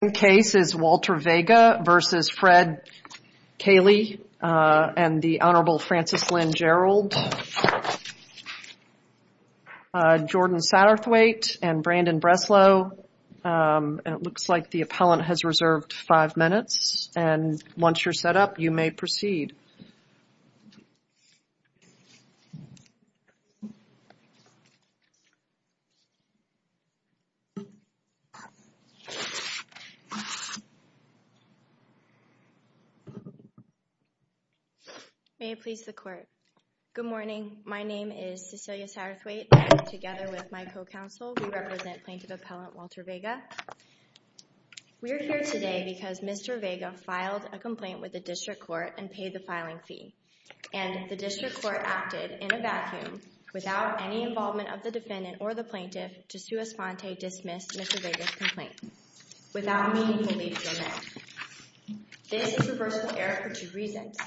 The second case is Walter Vega v. Fred Kahle and the Honorable Frances Lynn Gerald, Jordan Satterthwaite and Brandon Breslow. It looks like the appellant has reserved five minutes and once you're set up, you may proceed. Cecilia Satterthwaite May it please the Court, good morning. My name is Cecilia Satterthwaite and together with my co-counsel, we represent plaintiff appellant Walter Vega. We are here today because Mr. Vega filed a complaint with the District Court and paid the filing fee, and the District Court acted in a vacuum without any involvement of the defendant or the plaintiff to sua sponte dismiss Mr. Vega's complaint without meaningfully doing it. This is reversible error for two reasons.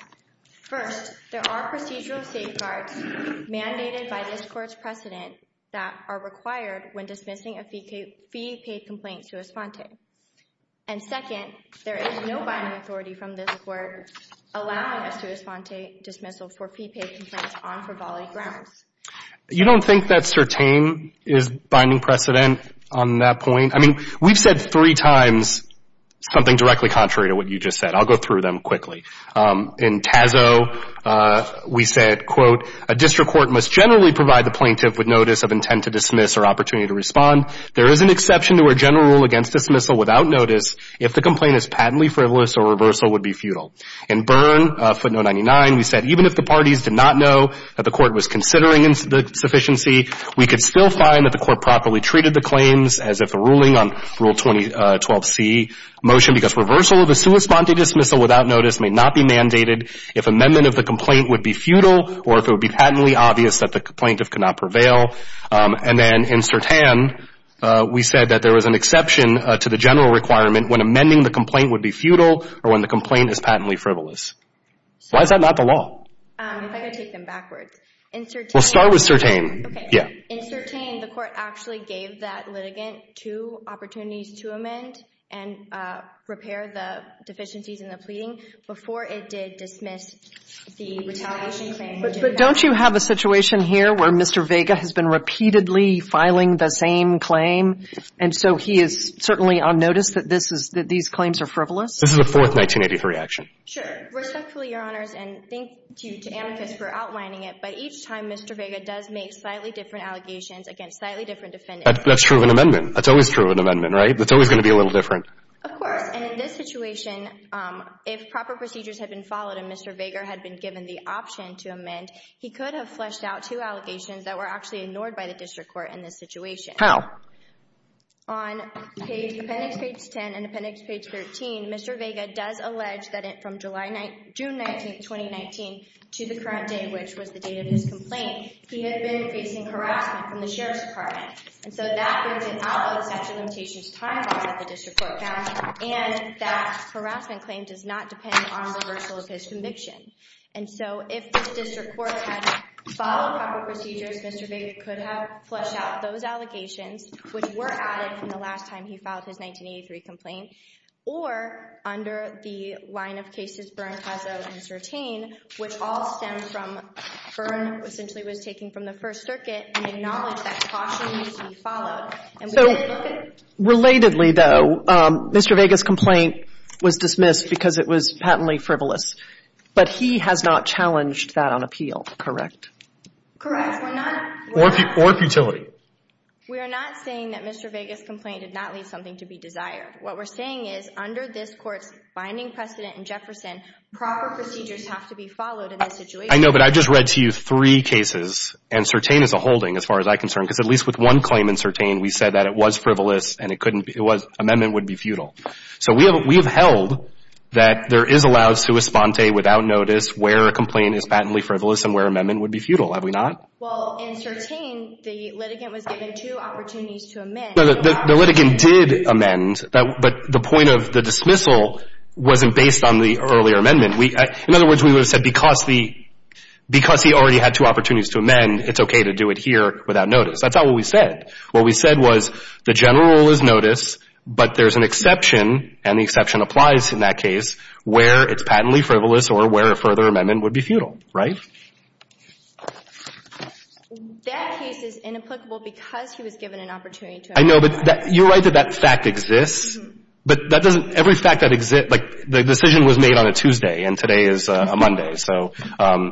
First, there are procedural safeguards mandated by this Court's precedent that are required when dismissing a fee-paid complaint sua sponte, and second, there is no binding authority from this Court allowing us to sua sponte dismissal for fee-paid complaints on frivolity grounds. You don't think that certain is binding precedent on that point? I mean, we've said three times something directly contrary to what you just said. I'll go through them quickly. In TASO, we said, quote, a District Court must generally provide the plaintiff with notice of intent to dismiss or opportunity to respond. There is an exception to our general rule against dismissal without notice if the complaint is patently frivolous or reversal would be futile. In Byrne, footnote 99, we said, even if the parties did not know that the Court was considering insufficiency, we could still find that the Court properly treated the claims as if a ruling on Rule 2012C motion because reversal of a sua sponte dismissal without notice may not be mandated if amendment of the complaint would be futile or if it would be patently obvious that the plaintiff could not prevail. And then in Sertan, we said that there was an exception to the general requirement when amending the complaint would be futile or when the complaint is patently frivolous. Why is that not the law? If I could take them backwards. Well, start with Sertan. Okay. In Sertan, the Court actually gave that litigant two opportunities to amend and repair the deficiencies in the pleading before it did dismiss the retaliation claim. But don't you have a situation here where Mr. Vega has been repeatedly filing the same claim, and so he is certainly on notice that this is — that these claims are frivolous? This is a fourth 1983 action. Sure. Respectfully, Your Honors, and thank you to Amicus for outlining it, but each time Mr. Vega does make slightly different allegations against slightly different defendants. That's true of an amendment. That's always true of an amendment, right? That's always going to be a little different. Of course. And in this situation, if proper procedures had been followed and Mr. Vega had been given the option to amend, he could have fleshed out two allegations that were actually ignored by the district court in this situation. How? On appendix page 10 and appendix page 13, Mr. Vega does allege that from June 19, 2019 to the current day, which was the date of his complaint, he had been facing harassment from the Sheriff's Department. And so that brings an out of the sexual limitations time bar that the district court passed, and that harassment claim does not depend on the reversal of his conviction. And so if this district court had followed proper procedures, Mr. Vega could have fleshed out those allegations, which were added from the last time he filed his 1983 complaint, or under the line of cases Byrne has entertained, which all stem from Byrne essentially was taking from the First Circuit and acknowledged that caution needs to be So, relatedly, though, Mr. Vega's complaint was dismissed because it was patently frivolous, but he has not challenged that on appeal, correct? Correct. Or futility. We are not saying that Mr. Vega's complaint did not leave something to be desired. What we're saying is, under this court's binding precedent in Jefferson, proper procedures have to be followed in this situation. I know, but I've just read to you three cases, and Sertain is a holding as far as I'm concerned, because at least with one claim in Sertain, we said that it was frivolous and it couldn't be, it was, amendment would be futile. So we have held that there is allowed sua sponte without notice where a complaint is patently frivolous and where amendment would be futile, have we not? Well, in Sertain, the litigant was given two opportunities to amend. No, the litigant did amend, but the point of the dismissal wasn't based on the earlier amendment. In other words, we would have said, because he already had two opportunities to amend, it's okay to do it here without notice. That's not what we said. What we said was, the general rule is notice, but there's an exception, and the exception applies in that case, where it's patently frivolous or where a further amendment would be futile, right? That case is inapplicable because he was given an opportunity to amend. I know, but you're right that that fact exists. But that doesn't, every fact that exists, like the decision was made on a Tuesday and today is a Monday, so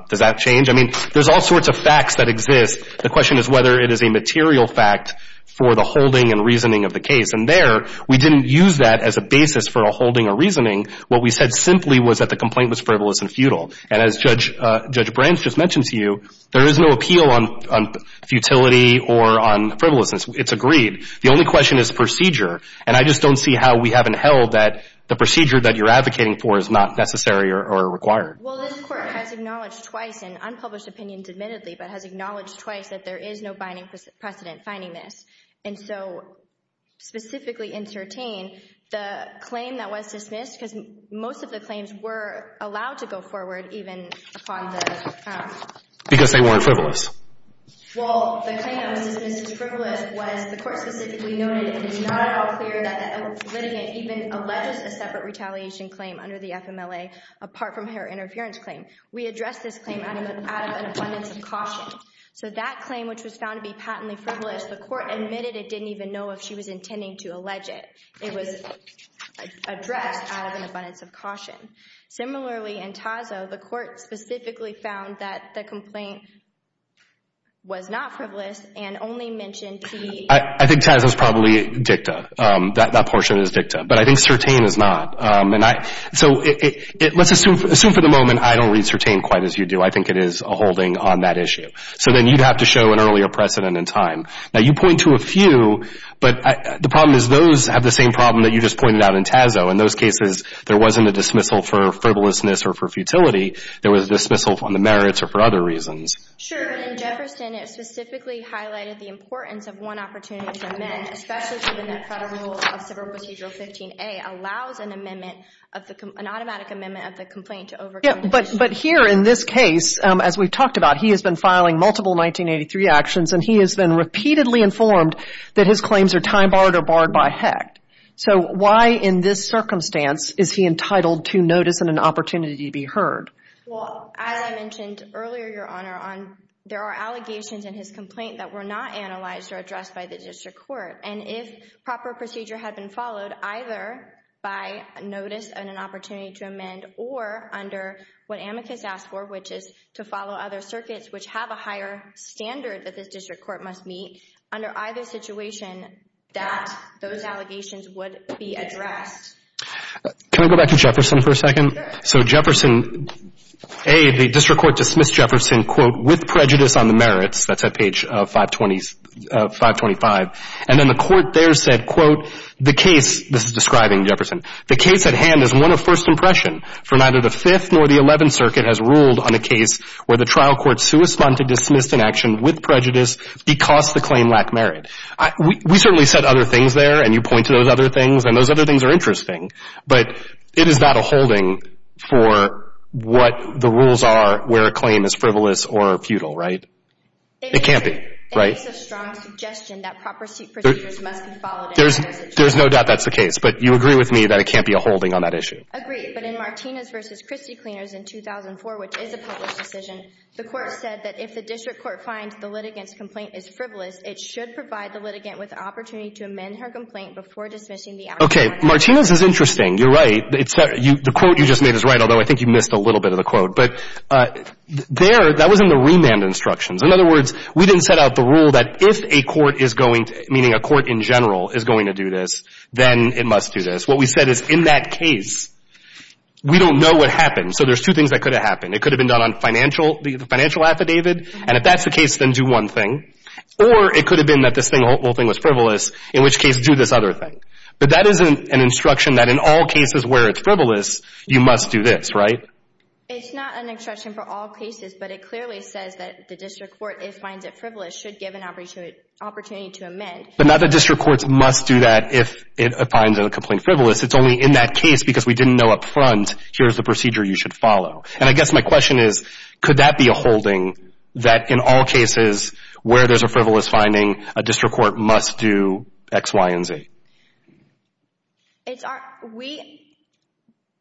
does that change? I mean, there's all sorts of facts that exist. The question is whether it is a material fact for the holding and reasoning of the case. And there, we didn't use that as a basis for a holding or reasoning. What we said simply was that the complaint was frivolous and futile. And as Judge Branch just mentioned to you, there is no appeal on futility or on frivolousness. It's agreed. The only question is procedure. And I just don't see how we haven't held that the procedure that you're advocating for is not necessary or required. Well, this Court has acknowledged twice, in unpublished opinions admittedly, but has acknowledged twice that there is no binding precedent finding this. And so, specifically in Tertain, the claim that was dismissed, because most of the Because they weren't frivolous. Well, the claim that was dismissed as frivolous was the Court specifically noted it is not at all clear that the litigant even alleges a separate retaliation claim under the FMLA apart from her interference claim. We addressed this claim out of an abundance of caution. So that claim, which was found to be patently frivolous, the Court admitted it didn't even know if she was intending to allege it. It was addressed out of an abundance of caution. Similarly, in Tazzo, the Court specifically found that the complaint was not frivolous and only mentioned the I think Tazzo is probably dicta. That portion is dicta. But I think Tertain is not. So let's assume for the moment I don't read Tertain quite as you do. I think it is a holding on that issue. So then you'd have to show an earlier precedent in time. Now, you point to a few, but the problem is those have the same problem that you just pointed out in Tazzo. In those cases, there wasn't a dismissal for frivolousness or for futility. There was a dismissal on the merits or for other reasons. Sure, but in Jefferson, it specifically highlighted the importance of one opportunity to amend, especially given that Federal Rule of Civil Procedure 15A allows an automatic amendment of the complaint to overcome the issue. But here in this case, as we've talked about, he has been filing multiple 1983 actions, and he has been repeatedly informed that his claims are time-barred or barred by HECT. So why in this circumstance is he entitled to notice and an opportunity to be heard? Well, as I mentioned earlier, Your Honor, there are allegations in his complaint that were not analyzed or addressed by the district court. And if proper procedure had been followed, either by notice and an opportunity to amend, or under what amicus asked for, which is to follow other circuits which have a higher standard that this district court must meet, under either situation, that those allegations would be addressed. Can I go back to Jefferson for a second? Sure. So Jefferson, A, the district court dismissed Jefferson, quote, with prejudice on the merits, that's at page 525, and then the court there said, quote, the case, this is describing Jefferson, the case at hand is one of first impression, for neither the 5th nor the 11th Circuit has ruled on a case where the trial court dismissed an action with prejudice because the claim lacked merit. We certainly said other things there, and you point to those other things, and those other things are interesting. But it is not a holding for what the rules are where a claim is frivolous or futile, right? It can't be, right? It makes a strong suggestion that proper procedures must be followed. There's no doubt that's the case, but you agree with me that it can't be a holding on that issue. Agreed, but in Martinez v. Christie Cleaners in 2004, which is a published decision, the court said that if the district court finds the litigant's complaint is frivolous, it should provide the litigant with the opportunity to amend her complaint before dismissing the action. Okay. Martinez is interesting. You're right. The quote you just made is right, although I think you missed a little bit of the quote. But there, that was in the remand instructions. In other words, we didn't set out the rule that if a court is going to, meaning a court in general is going to do this, then it must do this. What we said is in that case, we don't know what happened. So there's two things that could have happened. It could have been done on the financial affidavit, and if that's the case, then do one thing. Or it could have been that this whole thing was frivolous, in which case, do this other thing. But that isn't an instruction that in all cases where it's frivolous, you must do this, right? It's not an instruction for all cases, but it clearly says that the district court, if finds it frivolous, should give an opportunity to amend. But not that district courts must do that if it finds a complaint frivolous. It's only in that case, because we didn't know up front, here's the procedure you should follow. And I guess my question is, could that be a holding that in all cases where there's a frivolous finding, a district court must do X, Y, and Z?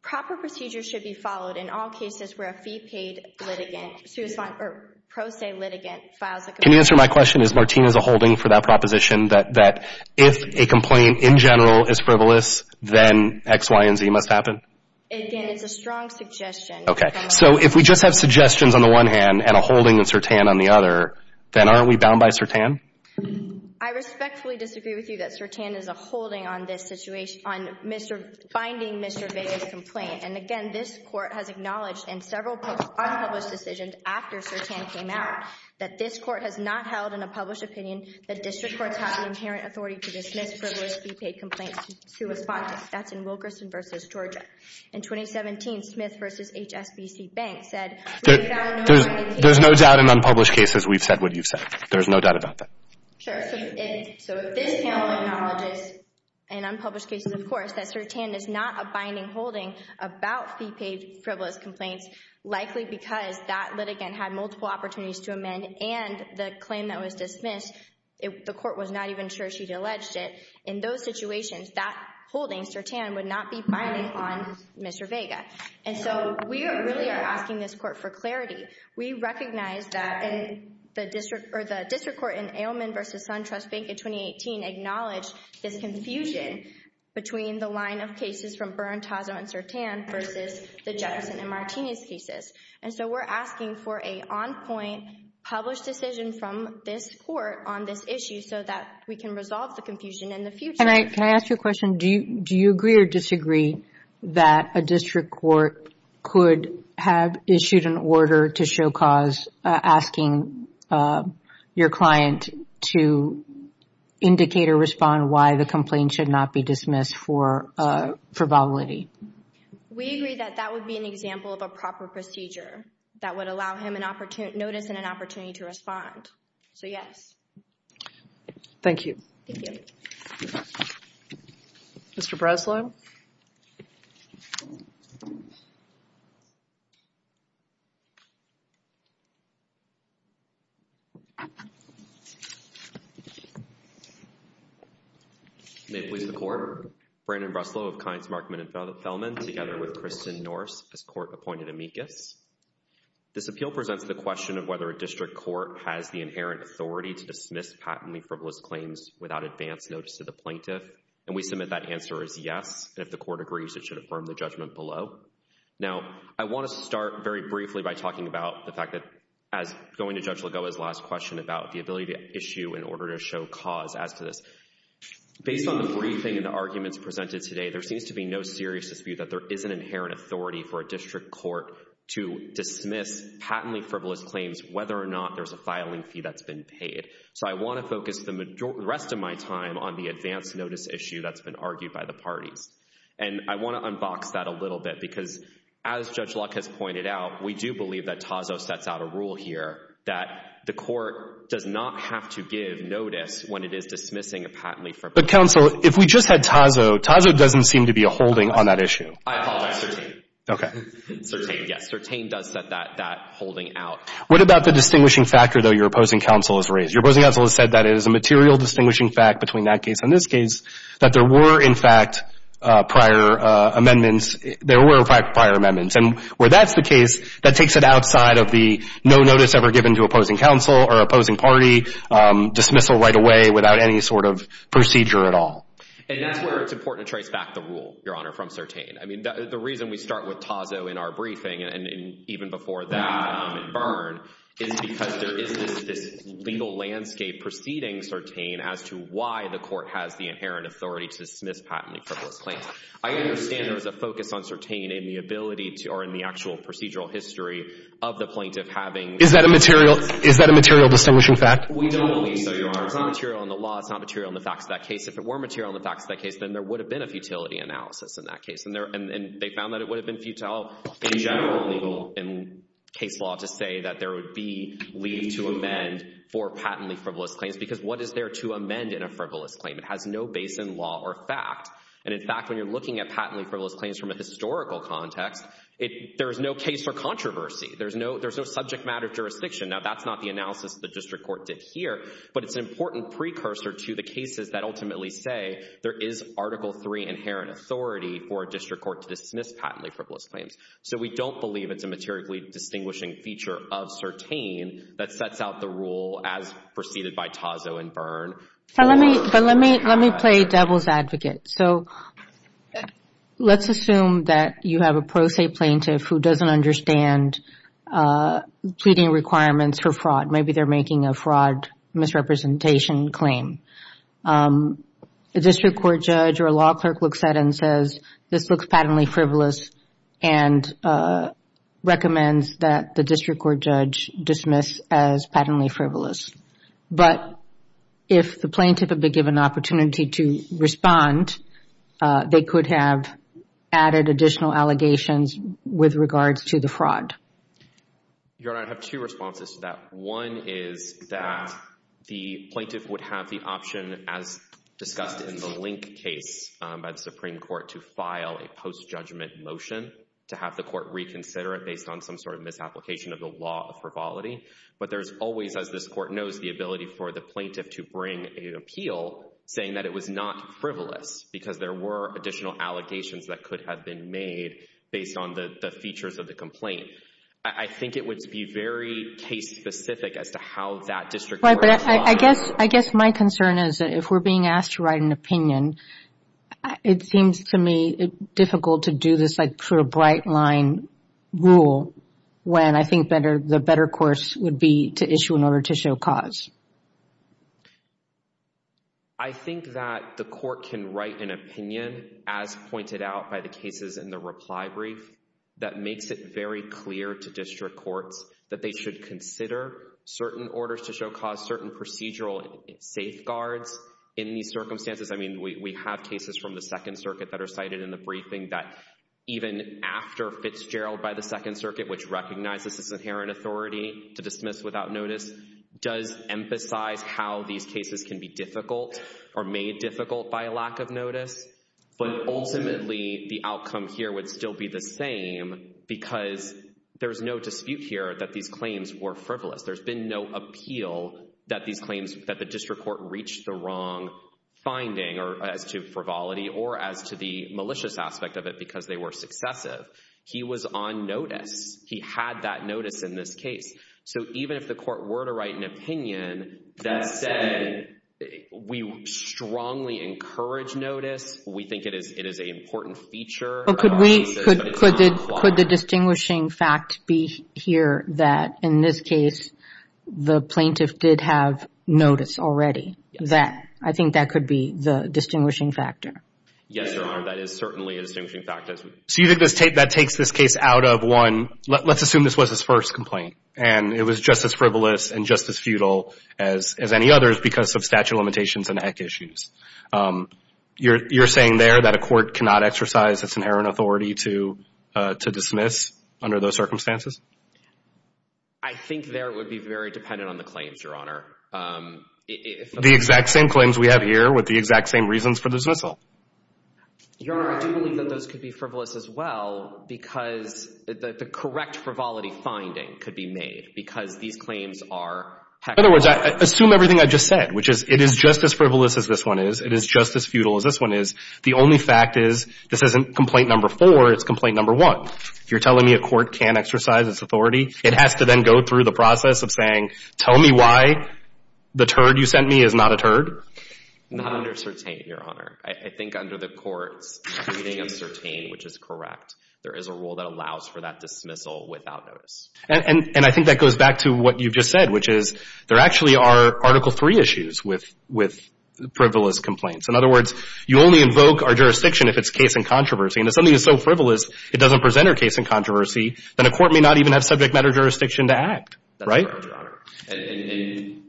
Proper procedures should be followed in all cases where a fee-paid litigant, or pro se litigant, files a complaint. Can you answer my question? Is Martina's a holding for that proposition that if a complaint in general is frivolous, then X, Y, and Z must happen? Again, it's a strong suggestion. Okay, so if we just have suggestions on the one hand, and a holding in Sirtan on the other, then aren't we bound by Sirtan? I respectfully disagree with you that Sirtan is a holding on this situation, on finding Mr. Vega's complaint. And again, this court has acknowledged in several unpublished decisions after Sirtan came out, that this court has not held in a published opinion that district courts have the inherent authority to dismiss frivolous fee-paid complaints to a sponsor. That's in Wilkerson v. Georgia. In 2017, Smith v. HSBC Bank said we have no doubt in unpublished cases. There's no doubt in unpublished cases we've said what you've said. There's no doubt about that. Sure, so if this panel acknowledges in unpublished cases, of course, that Sirtan is not a binding holding about fee-paid frivolous complaints, likely because that litigant had multiple opportunities to amend and the claim that was dismissed, the court was not even sure she'd alleged it. In those situations, that holding, Sirtan, would not be binding on Mr. Vega. And so we really are asking this court for clarity. We recognize that the district court in Ailman v. SunTrust Bank in 2018 acknowledged this confusion between the line of cases from Berntazzo and Sirtan versus the Jefferson and Martinez cases. And so we're asking for an on-point published decision from this court on this issue so that we can resolve the confusion in the future. Can I ask you a question? Do you agree or disagree that a district court could have issued an order to show cause asking your client to indicate or respond why the complaint should not be dismissed for violity? We agree that that would be an example of a proper procedure that would allow him notice and an opportunity to respond. So, yes. Thank you. Mr. Breslow? May it please the Court. Brandon Breslow of Kinds Markman and Fellman together with Kristen Norse as court-appointed amicus. This appeal presents the question of whether a district court has the inherent authority to dismiss patently frivolous claims without advance notice to the plaintiff. And we submit that answer is yes. If the Court agrees, it should affirm the judgment below. Now, I want to start very briefly by talking about the fact that as going to Judge Lagoa's last question about the ability to issue an order to show cause as to this. Based on the briefing and the arguments presented today, there seems to be no serious dispute that there is an inherent authority for a district court to dismiss patently frivolous claims whether or not there's a filing fee that's been paid. So, I want to focus the rest of my time on the advance notice issue that's been argued by the parties. And I want to unbox that a little bit because as Judge Luck has pointed out, we do believe that Tazzo sets out a rule here that the Court does not have to give notice when it is dismissing a patently frivolous claim. But, counsel, if we just had Tazzo, Tazzo doesn't seem to be a holding on that issue. I apologize. Sertain, yes. Sertain does set that holding out. What about the distinguishing factor, though, your opposing counsel has raised? Your opposing counsel has said that it is a material distinguishing fact between that case and this case that there were, in fact, prior amendments. There were, in fact, prior amendments. And where that's the case, that takes it outside of the no notice ever given to opposing counsel or opposing party dismissal right away without any sort of procedure at all. And that's where it's important to trace back the rule, Your Honor, from Sertain. I mean, the reason we start with Tazzo in our briefing and even before that amendment burned is because there is this legal landscape preceding Sertain as to why the Court has the inherent authority to dismiss patently frivolous claims. I understand there was a focus on Sertain in the ability to, or in the actual procedural history of the plaintiff having Is that a material distinguishing fact? We don't believe so, Your Honor. It's not material in the law. It's not material in the facts of that case. If it were material in the facts of that case, then there would have been a futility analysis in that case. And they found that it would have been illegal in case law to say that there would be leave to amend for patently frivolous claims because what is there to amend in a frivolous claim? It has no base in law or fact. And in fact, when you're looking at patently frivolous claims from a historical context, there is no case for controversy. There's no subject matter jurisdiction. Now, that's not the analysis the District Court did here, but it's an important precursor to the cases that ultimately say there is Article III inherent authority for a District Court to dismiss patently frivolous claims. So we don't believe it's a materially distinguishing feature of Certain that sets out the rule as preceded by Tozzo and Byrne. But let me play devil's advocate. So, let's assume that you have a pro se plaintiff who doesn't understand pleading requirements for fraud. Maybe they're making a fraud misrepresentation claim. A District Court judge or a law clerk looks at it and says, this looks patently frivolous and recommends that the District Court judge dismiss as patently frivolous. But, if the plaintiff had been given an opportunity to respond, they could have added additional allegations with regards to the fraud. Your Honor, I have two responses to that. One is that the plaintiff would have the option as discussed in the Link case by the Supreme Court to file a post-judgment motion to have the Court reconsider it based on some sort of misapplication of the law of frivolity. But there's always, as this Court knows, the ability for the plaintiff to bring an appeal saying that it was not frivolous because there were additional allegations that could have been made based on the features of the complaint. I think it would be very case specific as to how that District Court... Right, but I guess my concern is if we're being asked to write an opinion, it seems to me difficult to do this sort of bright line rule when I think the better course would be to issue an order to show cause. I think that the Court can write an opinion as pointed out by the cases in the reply brief that makes it very clear to District Courts that they should consider certain orders to show cause, certain procedural safeguards in these circumstances. We have cases from the Second Circuit that are cited in the briefing that even after Fitzgerald by the Second Circuit which recognizes its inherent authority to dismiss without notice does emphasize how these cases can be difficult or made difficult by a lack of notice but ultimately the outcome here would still be the same because there's no dispute here that these claims were frivolous. There's been no appeal that these claims that the District Court reached the wrong finding as to frivolity or as to the malicious aspect of it because they were successive. He was on notice. He had that notice in this case. So even if the Court were to write an opinion that said we strongly encourage notice we think it is an important feature of our case but it's not implied. Could the distinguishing fact be here that in this case the plaintiff did have notice already that I think that could be the distinguishing factor. Yes, Your Honor. That is certainly a distinguishing factor. So you think that takes this case out of one let's assume this was his first complaint and it was just as frivolous and just as futile as any others because of statute limitations and heck issues. You're saying there that a court cannot exercise its inherent authority to dismiss under those circumstances? I think there it would be very dependent on the claims, Your Honor. The exact same claims we have here with the exact same reasons for the dismissal. Your Honor, I do believe that those could be frivolous as well because the correct frivolity finding could be made because these claims are heck frivolous. In other words, assume everything I just said which is it is just as frivolous as this one is it is just as futile as this one is the only fact is this isn't complaint number four it's complaint number one. You're telling me a court can't exercise its authority? It has to then go through the process of saying tell me why the turd you sent me is not a turd? Not under certain, Your Honor. I think under the court's meaning of certain which is correct there is a rule that allows for that dismissal without notice. And I think that goes back to what you about her case and controversy and if something is so frivolous it doesn't present her case in controversy then a court may not even have subject matter jurisdiction to act. That's correct, And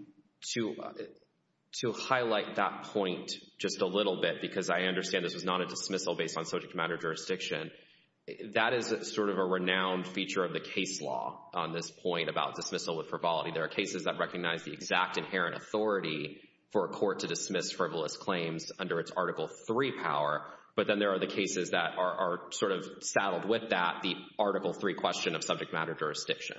to highlight that point just a little bit because I understand this was not a dismissal based on subject matter jurisdiction that is sort of a renowned feature of the case law on this point about dismissal with frivolity. There are cases that recognize the exact inherent authority for a court to dismiss frivolous claims under its article three power but then there are the cases that are sort of saddled with that the article three question of subject matter jurisdiction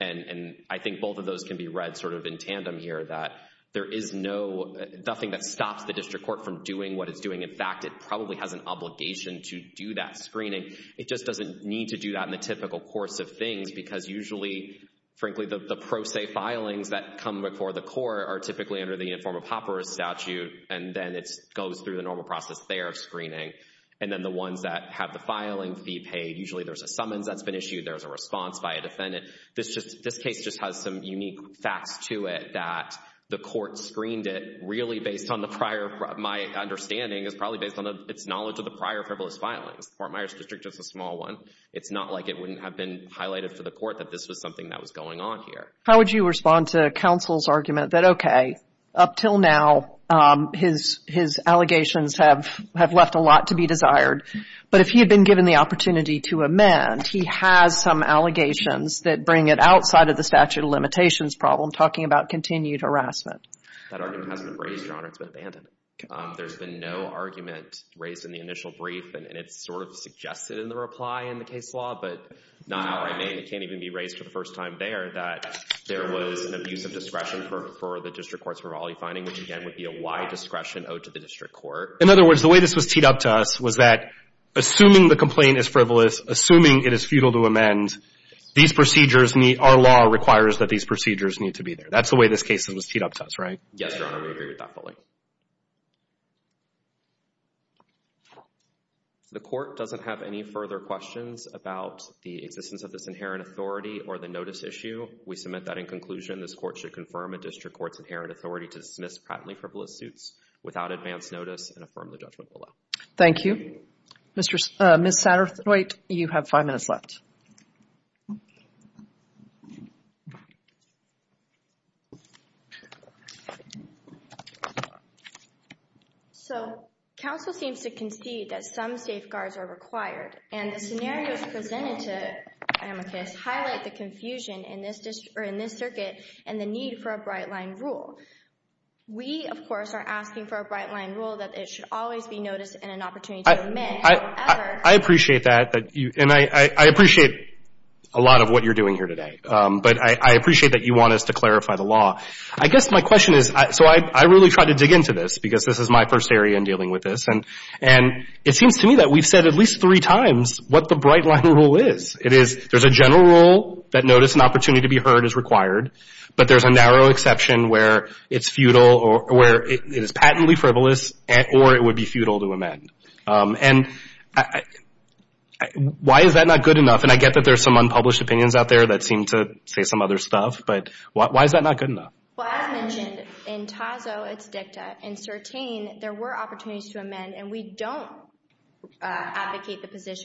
and I think both of those can be read sort of in tandem here that there is no nothing that stops the district court from doing what it's doing in fact it probably has an obligation to do that screening it just doesn't need to do that in the typical course of things because usually frankly the pro se filings that come before the court are typically under the uniform of hopper statute and then it goes through the normal process there of screening and then the ones that have the filing fee paid usually there's a summons that's been issued there's a response by a defendant this case just has some unique facts to it that the court screened it really based on the prior my understanding is probably based on its knowledge of the prior frivolous filings Fort Myers district is a small one it's not like it wouldn't have been highlighted for the court that this was something that was going on here how would you respond to counsel's argument that okay up till now his allegations have left a lot to be but if he had been given the opportunity to amend he has some allegations that bring it outside of the statute of limitations problem that argument hasn't been raised your honor it's been abandoned there's been no argument raised in the initial brief and it's sort of in the reply in the case law but not outright made it can't even be raised for the first time there that there that's the way this case was teed up to us right yes your honor we agree with that point the court doesn't have any further questions about the existence of this inherent authority or the notice issue we submit that in conclusion this court should confirm a district court's need counsel seems to concede that some safeguards are required and the scenarios presented to amicus highlight the confusion in this circuit and the need for a bright line rule we of are asking for a bright line the law i guess my question is i really try to dig into this because this is my first area in with this and it seems to me that we've said at least three times what the bright line rule is there's a general rule that notice and opportunity to be heard is required but there's a narrow exception where it's futile or it would be futile to amend and why is that not good enough and i get that there's some unpublished opinions out there that seem to say some other stuff but why is that not good enough to be heard and why is that not good enough to be heard and why is that not good enough to be heard and why is that not good enough to be heard and that is not good enough be heard that enough why good enough be heard and why is that not good and not good to and why is that good is good enough and why is that not good enough to be heard and why is not good enough to be heard and why not good enough to be heard and why is that not good enough to be heard and why that not good enough to be heard and why is that not good enough to be heard and why is that not enough and why is that not good enough to be heard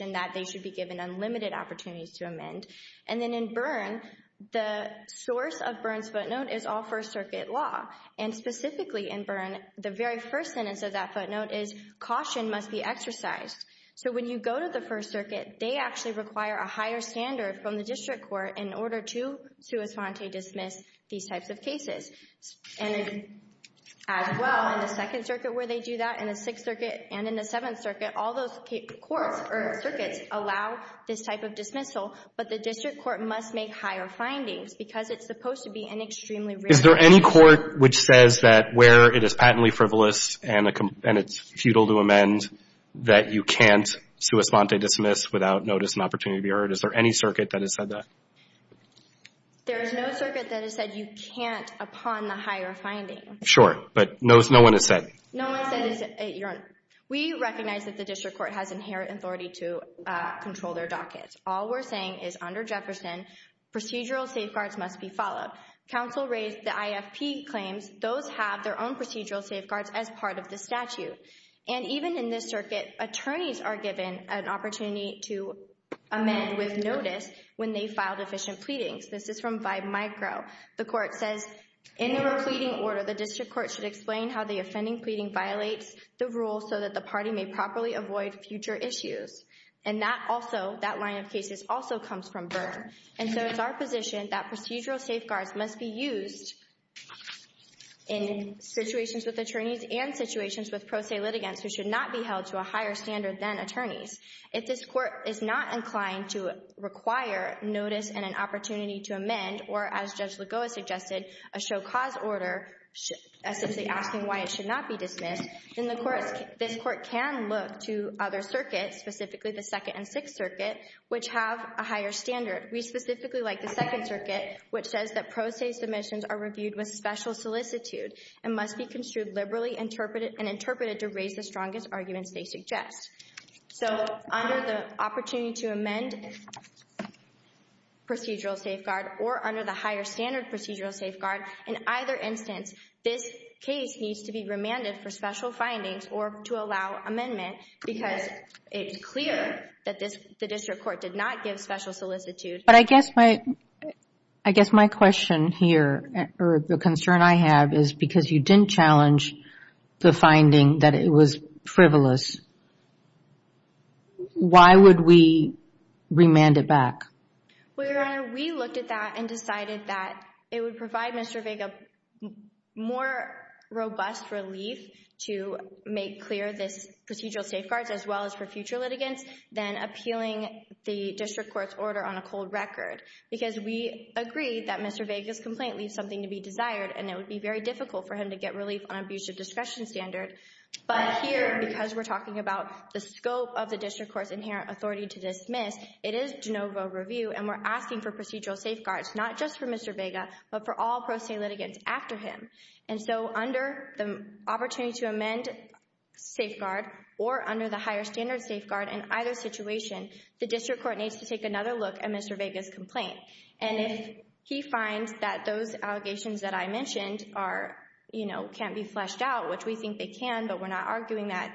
and why heard why not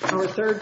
that